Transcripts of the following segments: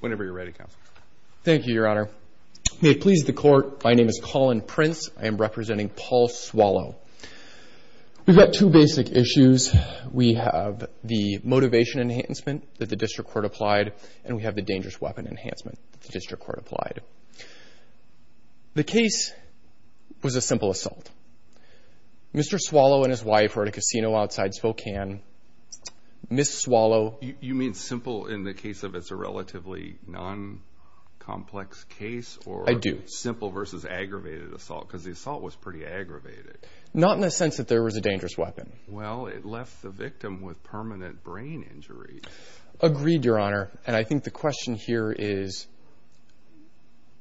Whenever you're ready, Counsel. Thank you, Your Honor. May it please the Court, my name is Colin Prince. I am representing Paul Swallow. We've got two basic issues. We have the motivation enhancement that the district court applied, and we have the dangerous weapon enhancement that the district court applied. The case was a simple assault. Mr. Swallow and his wife were at a casino outside Spokane. Ms. Swallow. You mean simple in the case of it's a relatively non-complex case? I do. Simple versus aggravated assault, because the assault was pretty aggravated. Not in the sense that there was a dangerous weapon. Well, it left the victim with permanent brain injury. Agreed, Your Honor. And I think the question here is,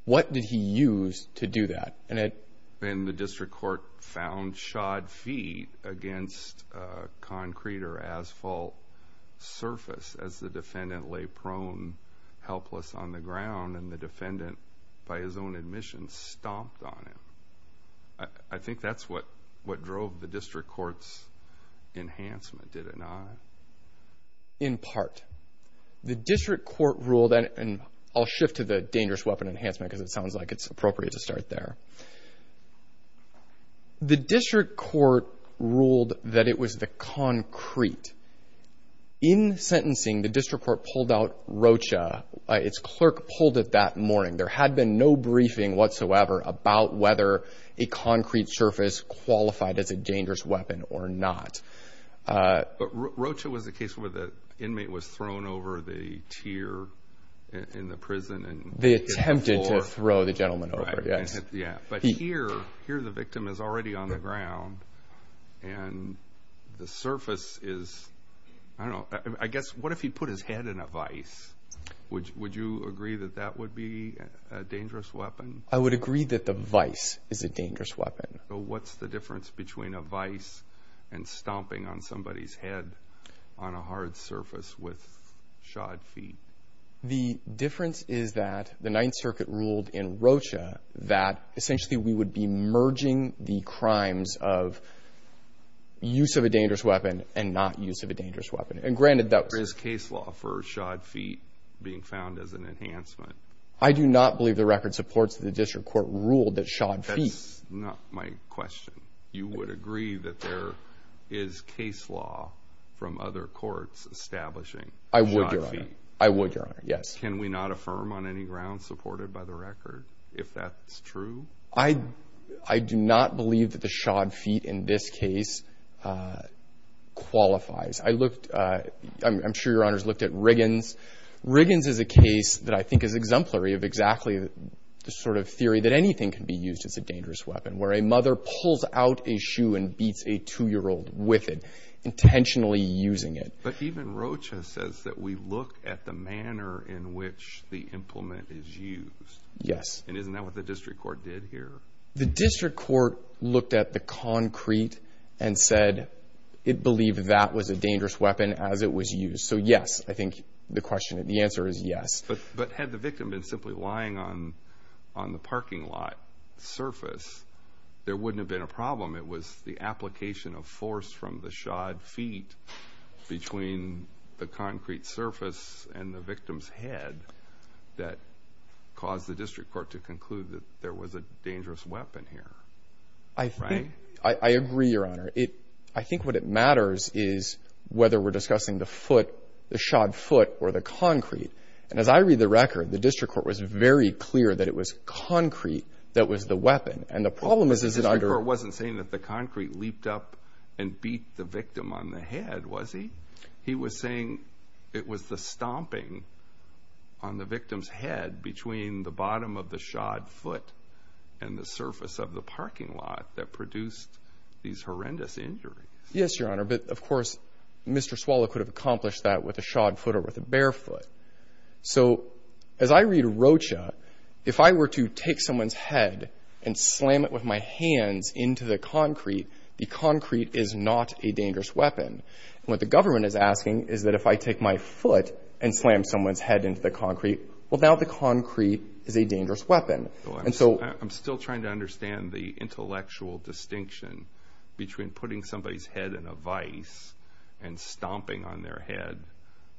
what did he use to do that? And the district court found shod feet against concrete or asphalt surface as the defendant lay prone, helpless on the ground, and the defendant, by his own admission, stomped on him. I think that's what drove the district court's enhancement, did it not? In part. The district court ruled, and I'll shift to the dangerous weapon enhancement because it sounds like it's appropriate to start there. The district court ruled that it was the concrete. In sentencing, the district court pulled out Rocha. Its clerk pulled it that morning. There had been no briefing whatsoever about whether a concrete surface qualified as a dangerous weapon or not. But Rocha was the case where the inmate was thrown over the tier in the prison? They attempted to throw the gentleman over, yes. But here, the victim is already on the ground, and the surface is, I don't know. I guess, what if he put his head in a vice? Would you agree that that would be a dangerous weapon? I would agree that the vice is a dangerous weapon. What's the difference between a vice and stomping on somebody's head on a hard surface with shod feet? The difference is that the Ninth Circuit ruled in Rocha that, essentially, we would be merging the crimes of use of a dangerous weapon and not use of a dangerous weapon. And granted, that was a case law for shod feet being found as an enhancement. I do not believe the record supports that the district court ruled that shod feet. That's not my question. You would agree that there is case law from other courts establishing shod feet? I would, Your Honor. I would, Your Honor, yes. Can we not affirm on any ground supported by the record if that's true? I do not believe that the shod feet in this case qualifies. I'm sure Your Honors looked at Riggins. Riggins is a case that I think is exemplary of exactly the sort of theory that anything can be used as a dangerous weapon, where a mother pulls out a shoe and beats a 2-year-old with it, intentionally using it. But even Rocha says that we look at the manner in which the implement is used. Yes. And isn't that what the district court did here? The district court looked at the concrete and said it believed that was a dangerous weapon as it was used. So, yes, I think the answer is yes. But had the victim been simply lying on the parking lot surface, there wouldn't have been a problem. It was the application of force from the shod feet between the concrete surface and the victim's head that caused the district court to conclude that there was a dangerous weapon here. Right? I agree, Your Honor. I think what matters is whether we're discussing the foot, the shod foot, or the concrete. And as I read the record, the district court was very clear that it was concrete that was the weapon. And the problem is, is it under- The district court wasn't saying that the concrete leaped up and beat the victim on the head, was he? He was saying it was the stomping on the victim's head between the bottom of the shod foot and the surface of the parking lot that produced these horrendous injuries. Yes, Your Honor. But, of course, Mr. Swallow could have accomplished that with a shod foot or with a bare foot. So, as I read Rocha, if I were to take someone's head and slam it with my hands into the concrete, the concrete is not a dangerous weapon. And what the government is asking is that if I take my foot and slam someone's head into the concrete, well, now the concrete is a dangerous weapon. And so- I'm still trying to understand the intellectual distinction between putting somebody's head in a vice and stomping on their head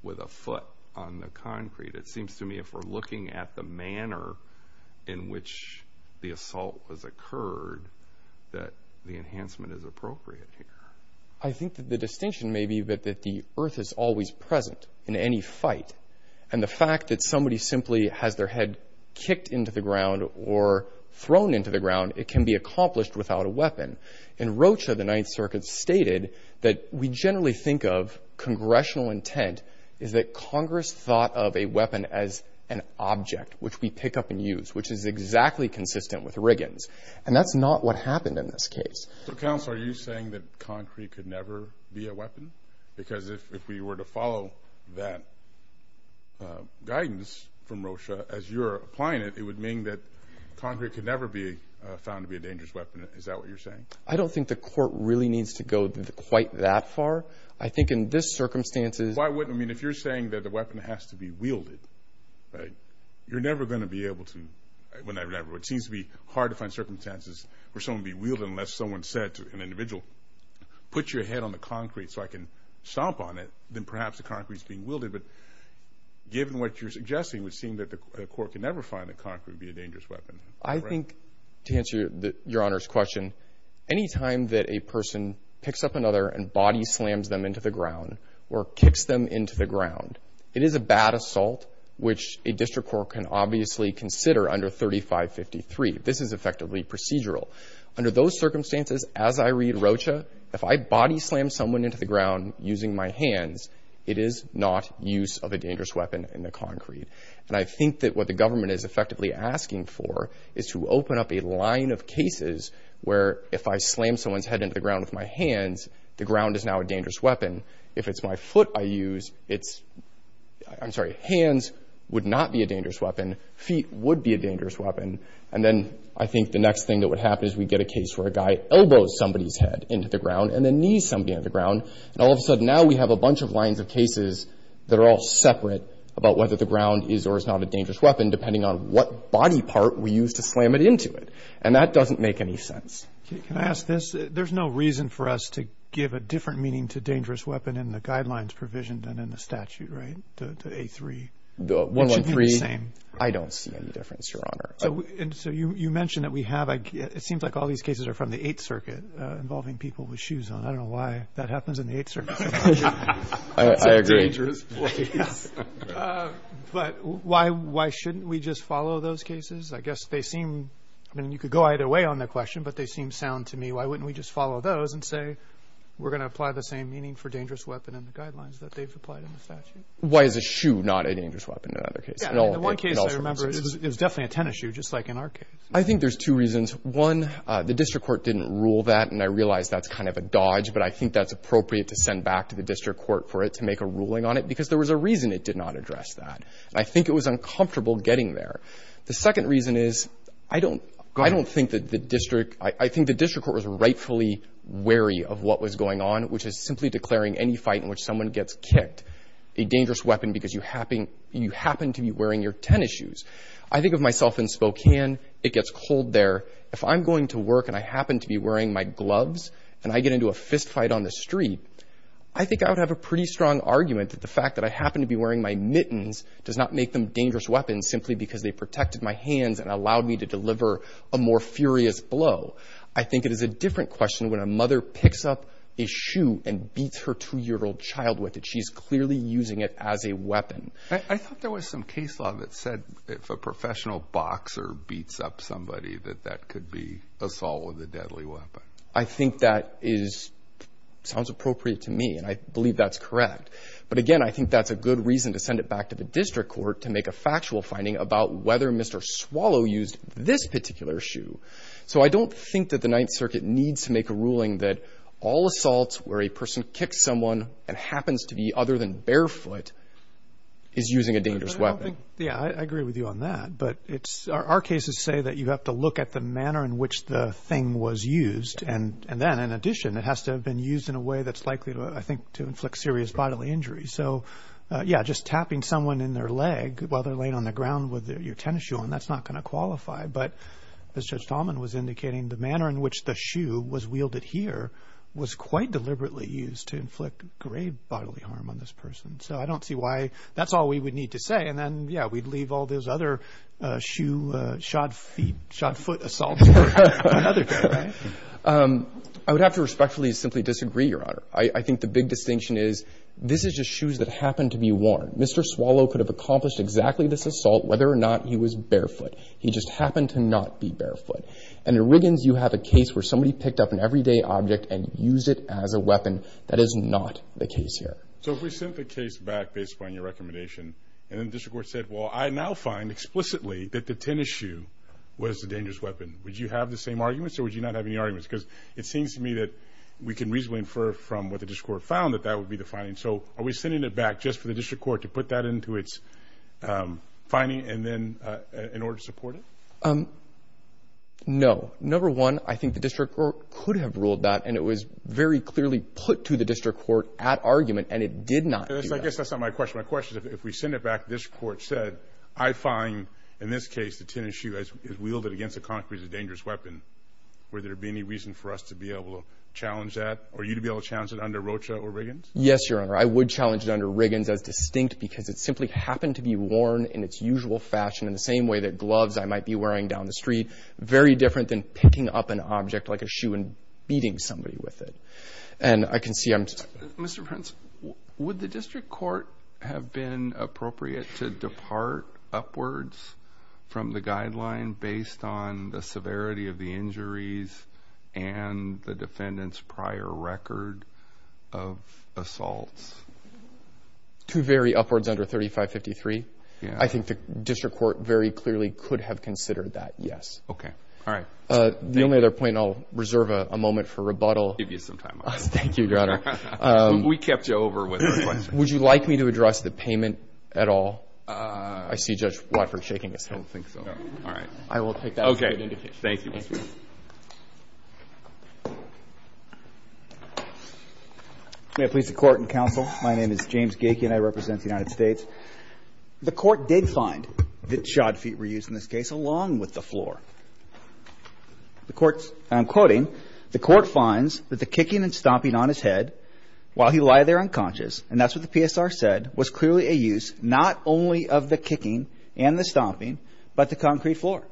with a foot on the concrete. It seems to me if we're looking at the manner in which the assault has occurred, that the enhancement is appropriate here. I think that the distinction may be that the earth is always present in any fight. And the fact that somebody simply has their head kicked into the ground or thrown into the ground, it can be accomplished without a weapon. And Rocha of the Ninth Circuit stated that we generally think of congressional intent is that Congress thought of a weapon as an object which we pick up and use, which is exactly consistent with Riggins. And that's not what happened in this case. So, Counsel, are you saying that concrete could never be a weapon? Because if we were to follow that guidance from Rocha as you're applying it, it would mean that concrete could never be found to be a dangerous weapon. Is that what you're saying? I don't think the court really needs to go quite that far. I think in this circumstance it is. Why wouldn't it? I mean, if you're saying that the weapon has to be wielded, you're never going to be able to. It seems to be hard to find circumstances where someone would be wielded unless someone said to an individual, put your head on the concrete so I can stomp on it, then perhaps the concrete is being wielded. But given what you're suggesting, it would seem that the court could never find the concrete to be a dangerous weapon. I think, to answer Your Honor's question, any time that a person picks up another and body slams them into the ground or kicks them into the ground, it is a bad assault, which a district court can obviously consider under 3553. This is effectively procedural. Under those circumstances, as I read Rocha, if I body slam someone into the ground using my hands, it is not use of a dangerous weapon in the concrete. And I think that what the government is effectively asking for is to open up a line of cases where if I slam someone's head into the ground with my hands, the ground is now a dangerous weapon. If it's my foot I use, it's — I'm sorry, hands would not be a dangerous weapon. Feet would be a dangerous weapon. And then I think the next thing that would happen is we'd get a case where a guy elbows somebody's head into the ground and then knees somebody into the ground. And all of a sudden now we have a bunch of lines of cases that are all separate about whether the ground is or is not a dangerous weapon depending on what body part we use to slam it into it. And that doesn't make any sense. Can I ask this? There's no reason for us to give a different meaning to dangerous weapon in the guidelines provision than in the statute, right? The A3. The 113. It should be the same. I don't see any difference, Your Honor. So you mentioned that we have — it seems like all these cases are from the Eighth Circuit involving people with shoes on. I don't know why that happens in the Eighth Circuit. I agree. It's a dangerous place. But why shouldn't we just follow those cases? I guess they seem — I mean, you could go either way on that question, but they seem sound to me. Why wouldn't we just follow those and say we're going to apply the same meaning for dangerous weapon in the guidelines that they've applied in the statute? Why is a shoe not a dangerous weapon in other cases? In one case I remember it was definitely a tennis shoe just like in our case. I think there's two reasons. One, the district court didn't rule that, and I realize that's kind of a dodge, but I think that's appropriate to send back to the district court for it to make a ruling on it because there was a reason it did not address that. And I think it was uncomfortable getting there. The second reason is I don't think that the district — I think the district court was rightfully wary of what was going on, which is simply declaring any fight in which someone gets kicked a dangerous weapon because you happen to be wearing your tennis shoes. I think of myself in Spokane. It gets cold there. If I'm going to work and I happen to be wearing my gloves and I get into a fistfight on the street, I think I would have a pretty strong argument that the fact that I happen to be wearing my mittens does not make them dangerous weapons simply because they protected my hands and allowed me to deliver a more furious blow. I think it is a different question when a mother picks up a shoe and beats her 2-year-old child with it. She's clearly using it as a weapon. I thought there was some case law that said if a professional boxer beats up somebody that that could be assault with a deadly weapon. I think that sounds appropriate to me, and I believe that's correct. But again, I think that's a good reason to send it back to the district court to make a factual finding about whether Mr. Swallow used this particular shoe. So I don't think that the Ninth Circuit needs to make a ruling that all assaults where a person kicks someone and happens to be other than barefoot is using a dangerous weapon. Yeah, I agree with you on that. But our cases say that you have to look at the manner in which the thing was used. And then, in addition, it has to have been used in a way that's likely, I think, to inflict serious bodily injury. So, yeah, just tapping someone in their leg while they're laying on the ground with your tennis shoe on, that's not going to qualify. But as Judge Talman was indicating, the manner in which the shoe was wielded here was quite deliberately used to inflict grave bodily harm on this person. So I don't see why that's all we would need to say. And then, yeah, we'd leave all those other shoe shot foot assaults for another day, right? I would have to respectfully simply disagree, Your Honor. I think the big distinction is this is just shoes that happened to be worn. Mr. Swallow could have accomplished exactly this assault whether or not he was barefoot. He just happened to not be barefoot. And in Wiggins you have a case where somebody picked up an everyday object and used it as a weapon. That is not the case here. So if we sent the case back based upon your recommendation, and then the district court said, well, I now find explicitly that the tennis shoe was a dangerous weapon, would you have the same arguments or would you not have any arguments? Because it seems to me that we can reasonably infer from what the district court found that that would be the finding. So are we sending it back just for the district court to put that into its finding and then in order to support it? No. Number one, I think the district court could have ruled that, and it was very clearly put to the district court at argument, and it did not do that. I guess that's not my question. My question is if we send it back, this court said, I find in this case the tennis shoe is wielded against a concrete as a dangerous weapon, would there be any reason for us to be able to challenge that or you to be able to challenge it under Rocha or Wiggins? Yes, Your Honor. I would challenge it under Wiggins as distinct because it simply happened to be worn in its usual fashion in the same way that gloves I might be wearing down the street, very different than picking up an object like a shoe and beating somebody with it. And I can see I'm just – Mr. Prince, would the district court have been appropriate to depart upwards from the guideline based on the severity of the injuries and the defendant's prior record of assaults? To vary upwards under 3553? Yes. I think the district court very clearly could have considered that, yes. Okay. All right. The only other point I'll reserve a moment for rebuttal. Give you some time. Thank you, Your Honor. We kept you over with the question. I see Judge Watford shaking his head. I don't think so. All right. I will take that as a good indication. Okay. Thank you. May it please the Court and Counsel, my name is James Gakey and I represent the United States. The Court did find that shod feet were used in this case along with the floor. I'm quoting, The Court finds that the kicking and stomping on his head while he lied there unconscious, and that's what the PSR said, was clearly a use not only of the kicking and the stomping, but the concrete floor.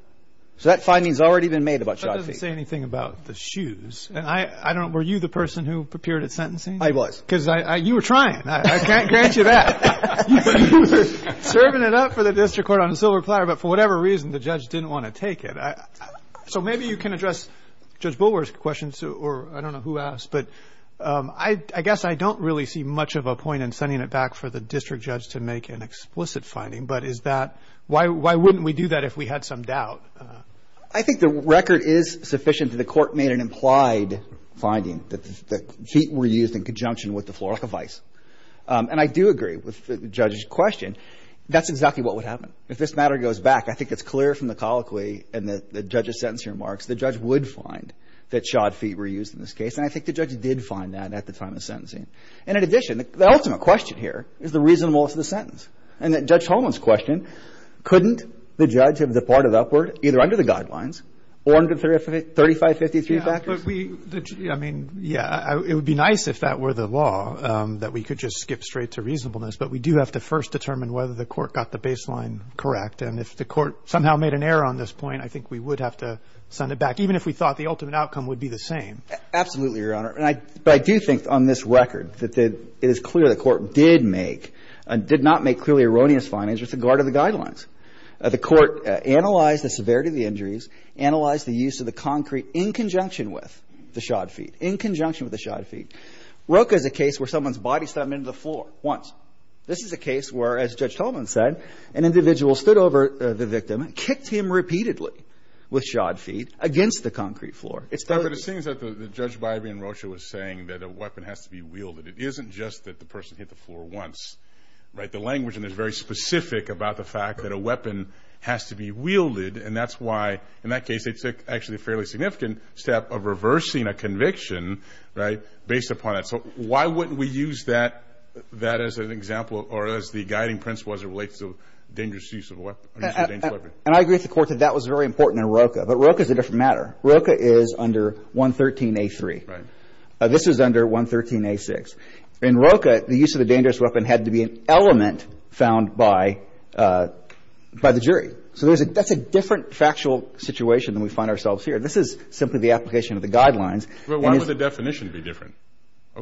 So that finding has already been made about shod feet. That doesn't say anything about the shoes. Were you the person who prepared his sentencing? I was. Because you were trying. I can't grant you that. You were serving it up for the district court on a silver platter, but for whatever reason the judge didn't want to take it. So maybe you can address Judge Bulwer's question, or I don't know who asked, but I guess I don't really see much of a point in sending it back for the district judge to make an explicit finding, but is that why wouldn't we do that if we had some doubt? I think the record is sufficient that the Court made an implied finding, that the feet were used in conjunction with the floor like a vice. And I do agree with the judge's question. That's exactly what would happen. If this matter goes back, I think it's clear from the colloquy and the judge's sentencing remarks, the judge would find that shod feet were used in this case, and I think the judge did find that at the time of the sentencing. And in addition, the ultimate question here is the reasonableness of the sentence. And Judge Holman's question, couldn't the judge have departed upward either under the guidelines or under 3553 factors? Yeah, I mean, yeah, it would be nice if that were the law, that we could just skip straight to reasonableness, but we do have to first determine whether the Court got the baseline correct. And if the Court somehow made an error on this point, I think we would have to send it back, even if we thought the ultimate outcome would be the same. Absolutely, Your Honor. But I do think on this record that it is clear the Court did make, did not make clearly erroneous findings with regard to the guidelines. The Court analyzed the severity of the injuries, analyzed the use of the concrete in conjunction with the shod feet, in conjunction with the shod feet. Roka is a case where someone's body stepped into the floor once. This is a case where, as Judge Holman said, an individual stood over the victim, kicked him repeatedly with shod feet against the concrete floor. But the thing is that Judge Bybee and Rocha was saying that a weapon has to be wielded. It isn't just that the person hit the floor once, right? The language in this is very specific about the fact that a weapon has to be wielded, and that's why, in that case, it's actually a fairly significant step of reversing a conviction, right, based upon it. So why wouldn't we use that as an example or as the guiding principle as it relates to dangerous use of a weapon? And I agree with the Court that that was very important in Roka, but Roka is a different matter. Roka is under 113A3. Right. This is under 113A6. In Roka, the use of a dangerous weapon had to be an element found by the jury. So that's a different factual situation than we find ourselves here. This is simply the application of the guidelines. But why would the definition be different?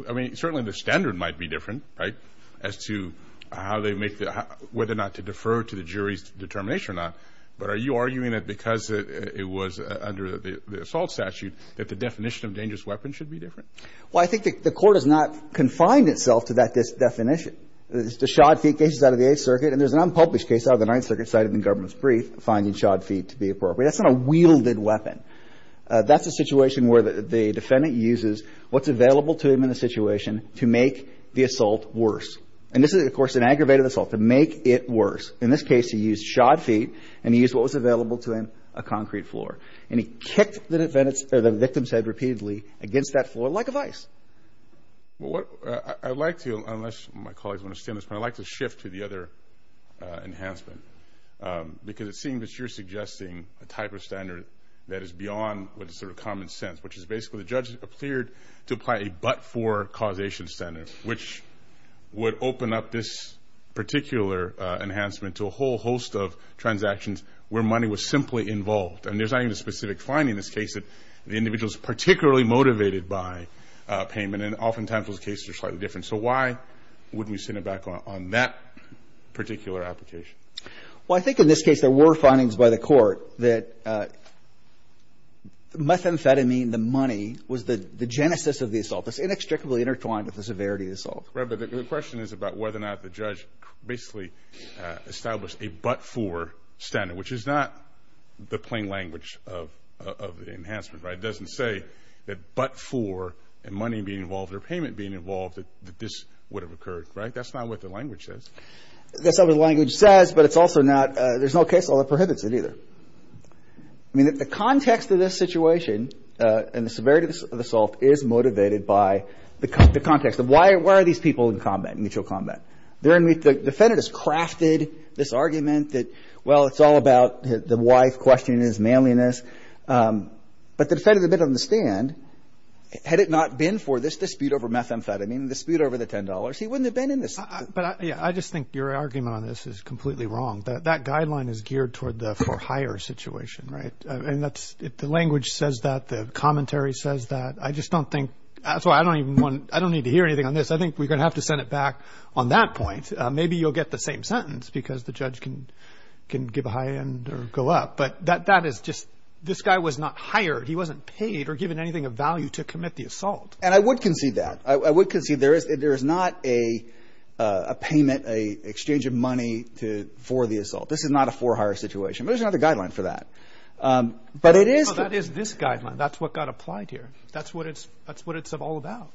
I mean, certainly the standard might be different, right, as to how they make the – whether or not to defer to the jury's determination or not. But are you arguing that because it was under the assault statute that the definition of dangerous weapon should be different? Well, I think the Court has not confined itself to that definition. The shod feet case is out of the Eighth Circuit, and there's an unpublished case out of the Ninth Circuit cited in the government's brief finding shod feet to be appropriate. That's not a wielded weapon. That's a situation where the defendant uses what's available to him in the situation to make the assault worse. And this is, of course, an aggravated assault, to make it worse. In this case, he used shod feet, and he used what was available to him, a concrete floor. And he kicked the victim's head repeatedly against that floor like a vice. Well, what – I'd like to, unless my colleagues understand this, but I'd like to shift to the other enhancement, because it seems that you're suggesting a type of standard that is beyond what is sort of common sense, which is basically the judge appeared to apply a but-for causation standard, which would open up this particular enhancement to a whole host of transactions where money was simply involved. And there's not even a specific finding in this case that the individual is particularly motivated by payment, and oftentimes those cases are slightly different. So why wouldn't we send it back on that particular application? Well, I think in this case there were findings by the Court that methamphetamine, the money, was the genesis of the assault. It's inextricably intertwined with the severity of the assault. Right, but the question is about whether or not the judge basically established a but-for standard, which is not the plain language of the enhancement, right? It doesn't say that but-for and money being involved or payment being involved, that this would have occurred, right? That's not what the language says. That's not what the language says, but it's also not – there's no case law that prohibits it either. I mean, the context of this situation and the severity of the assault is motivated by the context of why are these people in combat, mutual combat? The defendant has crafted this argument that, well, it's all about the wife questioning his manliness. But the defendant didn't understand, had it not been for this dispute over methamphetamine, the dispute over the $10, he wouldn't have been in this. But, yeah, I just think your argument on this is completely wrong. That guideline is geared toward the for hire situation, right? And that's – the language says that. The commentary says that. I just don't think – that's why I don't even want – I don't need to hear anything on this. I think we're going to have to send it back on that point. Maybe you'll get the same sentence because the judge can give a high end or go up. But that is just – this guy was not hired. He wasn't paid or given anything of value to commit the assault. And I would concede that. I would concede there is not a payment, an exchange of money for the assault. This is not a for hire situation. But there's another guideline for that. But it is – No, that is this guideline. That's what got applied here. That's what it's all about.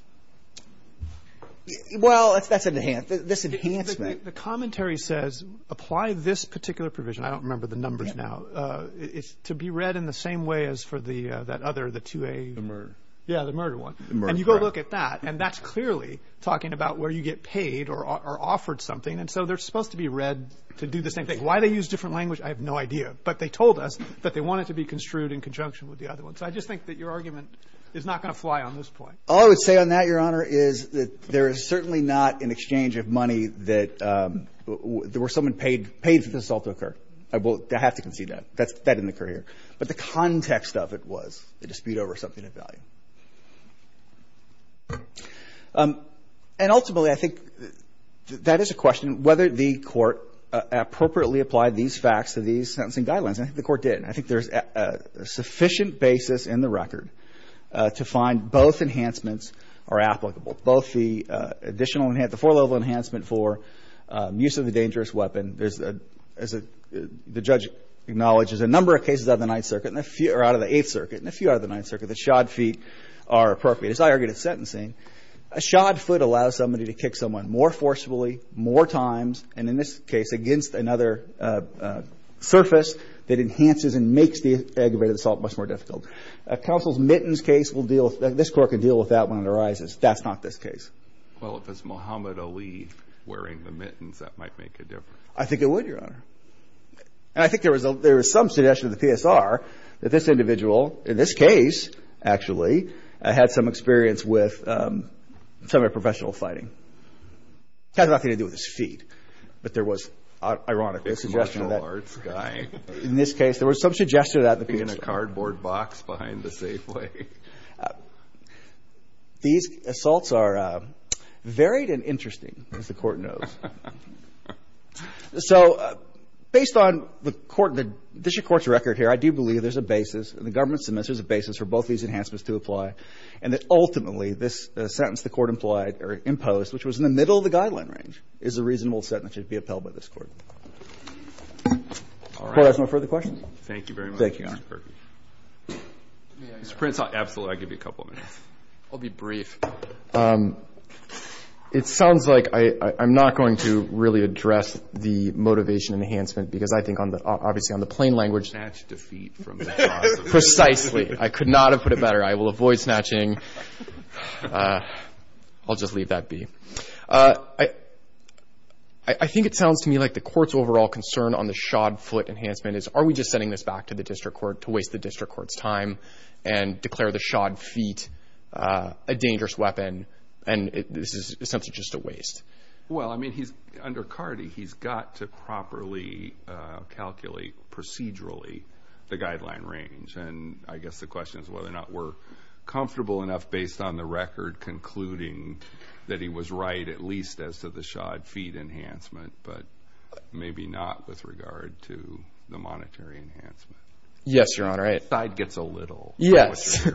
Well, that's an – this enhancement. The commentary says apply this particular provision. I don't remember the numbers now. It's to be read in the same way as for that other, the 2A. The murder. Yeah, the murder one. And you go look at that, and that's clearly talking about where you get paid or offered something. And so they're supposed to be read to do the same thing. Why they use different language, I have no idea. But they told us that they want it to be construed in conjunction with the other one. So I just think that your argument is not going to fly on this point. All I would say on that, Your Honor, is that there is certainly not an exchange of money that – where someone paid for the assault to occur. I have to concede that. That didn't occur here. But the context of it was the dispute over something of value. And ultimately, I think that is a question, whether the Court appropriately applied these facts to these sentencing guidelines. I think the Court did. And I think there's a sufficient basis in the record to find both enhancements are applicable, both the additional – the four-level enhancement for use of a dangerous weapon. As the judge acknowledges, a number of cases out of the Ninth Circuit and a few – or out of the Eighth Circuit and a few out of the Ninth Circuit, the shod feet are appropriate. As I argued at sentencing, a shod foot allows somebody to kick someone more forcefully, more times, and in this case, against another surface that enhances and makes the aggravated assault much more difficult. Counsel's mittens case will deal – this Court can deal with that when it arises. That's not this case. Well, if it's Muhammad Ali wearing the mittens, that might make a difference. I think it would, Your Honor. And I think there was some suggestion in the PSR that this individual, in this case, actually, had some experience with some professional fighting. It has nothing to do with his feet. But there was, ironically, a suggestion of that. The commercial arts guy. In this case, there was some suggestion of that in the PSR. In a cardboard box behind the Safeway. These assaults are varied and interesting, as the Court knows. So, based on the court – the district court's record here, I do believe there's a basis, in the government's dismissal, there's a basis for both these enhancements to apply, and that ultimately, this sentence the Court implied or imposed, which was in the middle of the guideline range, is a reasonable sentence that should be upheld by this Court. All right. If the Court has no further questions. Thank you very much, Mr. Perkins. Thank you, Your Honor. Mr. Prince, absolutely. I'll give you a couple of minutes. I'll be brief. It sounds like I'm not going to really address the motivation enhancement, because I think, obviously, on the plain language – Snatch defeat from the boss. Precisely. I could not have put it better. I will avoid snatching. I'll just leave that be. I think it sounds to me like the Court's overall concern on the shod foot enhancement is, are we just sending this back to the district court to waste the district court's time and declare the shod feet a dangerous weapon, and this is essentially just a waste? Well, I mean, under Cardey, he's got to properly calculate procedurally the guideline range, and I guess the question is whether or not we're comfortable enough, based on the record, concluding that he was right at least as to the shod feet enhancement, but maybe not with regard to the monetary enhancement. Yes, Your Honor. The side gets a little. Yes,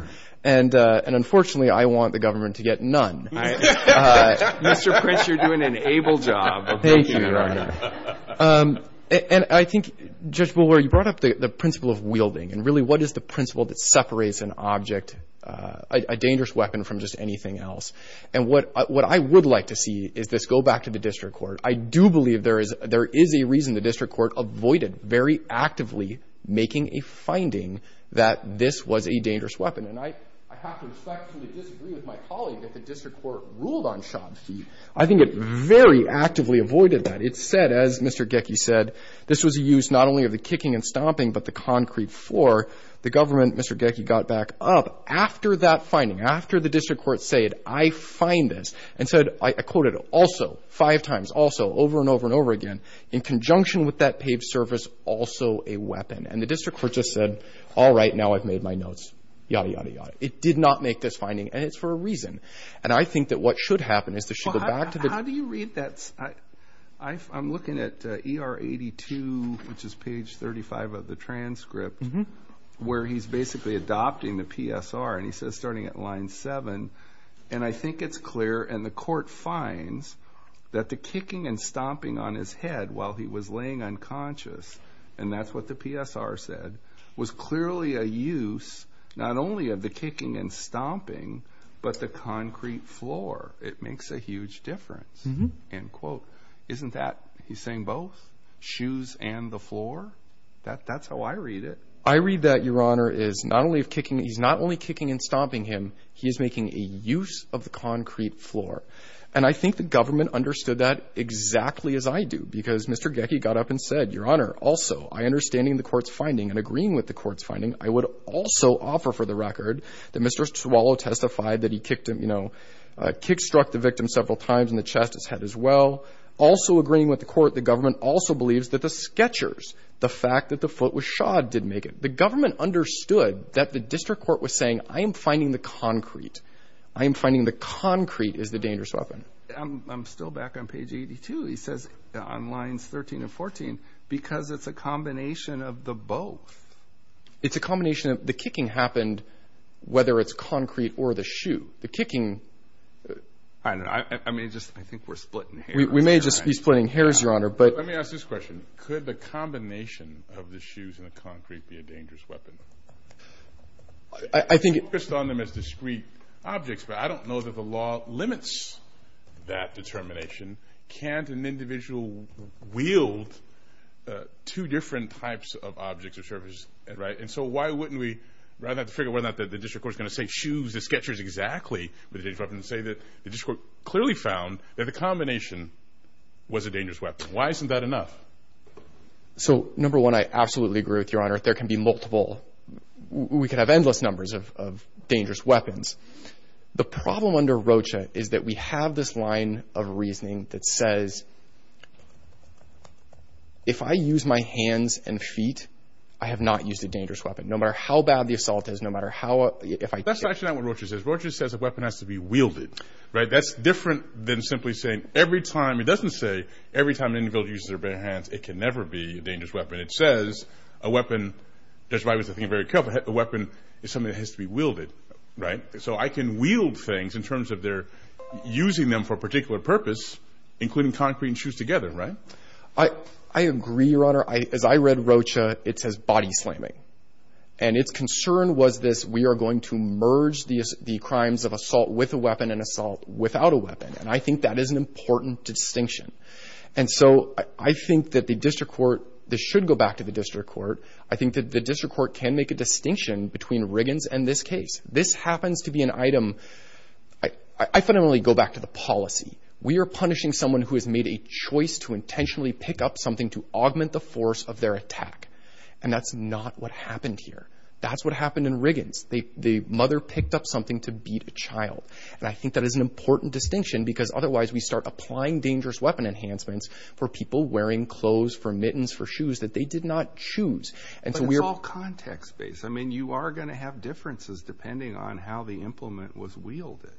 and unfortunately I want the government to get none. Mr. Prince, you're doing an able job. Thank you, Your Honor. And I think, Judge Bulwer, you brought up the principle of wielding, and really what is the principle that separates an object, a dangerous weapon, from just anything else? And what I would like to see is this go back to the district court. I do believe there is a reason the district court avoided very actively making a finding that this was a dangerous weapon, and I have to respectfully disagree with my colleague that the district court ruled on shod feet. I think it very actively avoided that. It said, as Mr. Gecki said, this was a use not only of the kicking and stomping but the concrete floor. The government, Mr. Gecki, got back up after that finding, after the district court said, I find this, and said, I quoted, also, five times, also, over and over and over again, in conjunction with that paved surface, also a weapon. And the district court just said, all right, now I've made my notes, yada, yada, yada. It did not make this finding, and it's for a reason. And I think that what should happen is that should go back to the district court. How do you read that? I'm looking at ER 82, which is page 35 of the transcript, where he's basically adopting the PSR, and he says starting at line 7, and I think it's clear, and the court finds, that the kicking and stomping on his head while he was laying unconscious, and that's what the PSR said, was clearly a use not only of the kicking and stomping but the concrete floor. It makes a huge difference, end quote. Isn't that, he's saying both, shoes and the floor? That's how I read it. I read that, Your Honor, is not only kicking and stomping him, he is making a use of the concrete floor. And I think the government understood that exactly as I do, because Mr. Gecki got up and said, Your Honor, also, I understanding the court's finding and agreeing with the court's finding, I would also offer for the record that Mr. Swallow testified that he kicked him, you know, kick struck the victim several times in the chest, his head as well. Also agreeing with the court, the government also believes that the sketchers, the fact that the foot was shod, did make it. The government understood that the district court was saying, I am finding the concrete. I am finding the concrete is the dangerous weapon. I'm still back on page 82. It says on lines 13 and 14, because it's a combination of the both. It's a combination of the kicking happened, whether it's concrete or the shoe. The kicking. I mean, I think we're splitting hairs. We may just be splitting hairs, Your Honor. Let me ask this question. Could the combination of the shoes and the concrete be a dangerous weapon? I think. Focused on them as discrete objects, but I don't know that the law limits that determination. Can't an individual wield two different types of objects or surfaces, right? And so why wouldn't we, rather than have to figure whether or not the district court is going to say shoes, the sketchers exactly were the dangerous weapon, say that the district court clearly found that the combination was a dangerous weapon. Why isn't that enough? So, number one, I absolutely agree with you, Your Honor. There can be multiple. We could have endless numbers of dangerous weapons. The problem under Rocha is that we have this line of reasoning that says, if I use my hands and feet, I have not used a dangerous weapon. No matter how bad the assault is, no matter how if I... That's actually not what Rocha says. Rocha says a weapon has to be wielded, right? That's different than simply saying every time. It doesn't say every time an individual uses their bare hands, it can never be a dangerous weapon. It says a weapon... Judge Breyer was thinking very carefully. A weapon is something that has to be wielded, right? So I can wield things in terms of their using them for a particular purpose, including concrete and shoes together, right? I agree, Your Honor. As I read Rocha, it says body slamming. And its concern was this, we are going to merge the crimes of assault with a weapon and assault without a weapon. And I think that is an important distinction. And so I think that the district court... This should go back to the district court. I think that the district court can make a distinction between Riggins and this case. This happens to be an item... I fundamentally go back to the policy. We are punishing someone who has made a choice to intentionally pick up something to augment the force of their attack. And that's not what happened here. That's what happened in Riggins. The mother picked up something to beat a child. And I think that is an important distinction because otherwise we start applying dangerous weapon enhancements for people wearing clothes, for mittens, for shoes that they did not choose. But it's all context-based. I mean, you are going to have differences depending on how the implement was wielded.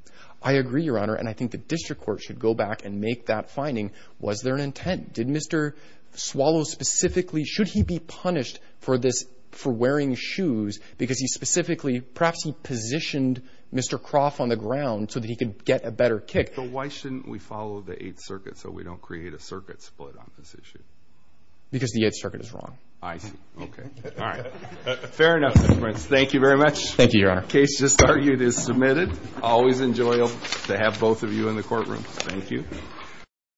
I agree, Your Honor. And I think the district court should go back and make that finding. Was there an intent? Did Mr. Swallow specifically... Should he be punished for this, for wearing shoes because he specifically... But why shouldn't we follow the Eighth Circuit so we don't create a circuit split on this issue? Because the Eighth Circuit is wrong. I see. Okay. All right. Fair enough, Mr. Prince. Thank you very much. Thank you, Your Honor. Case just argued is submitted. Always enjoyable to have both of you in the courtroom. Thank you.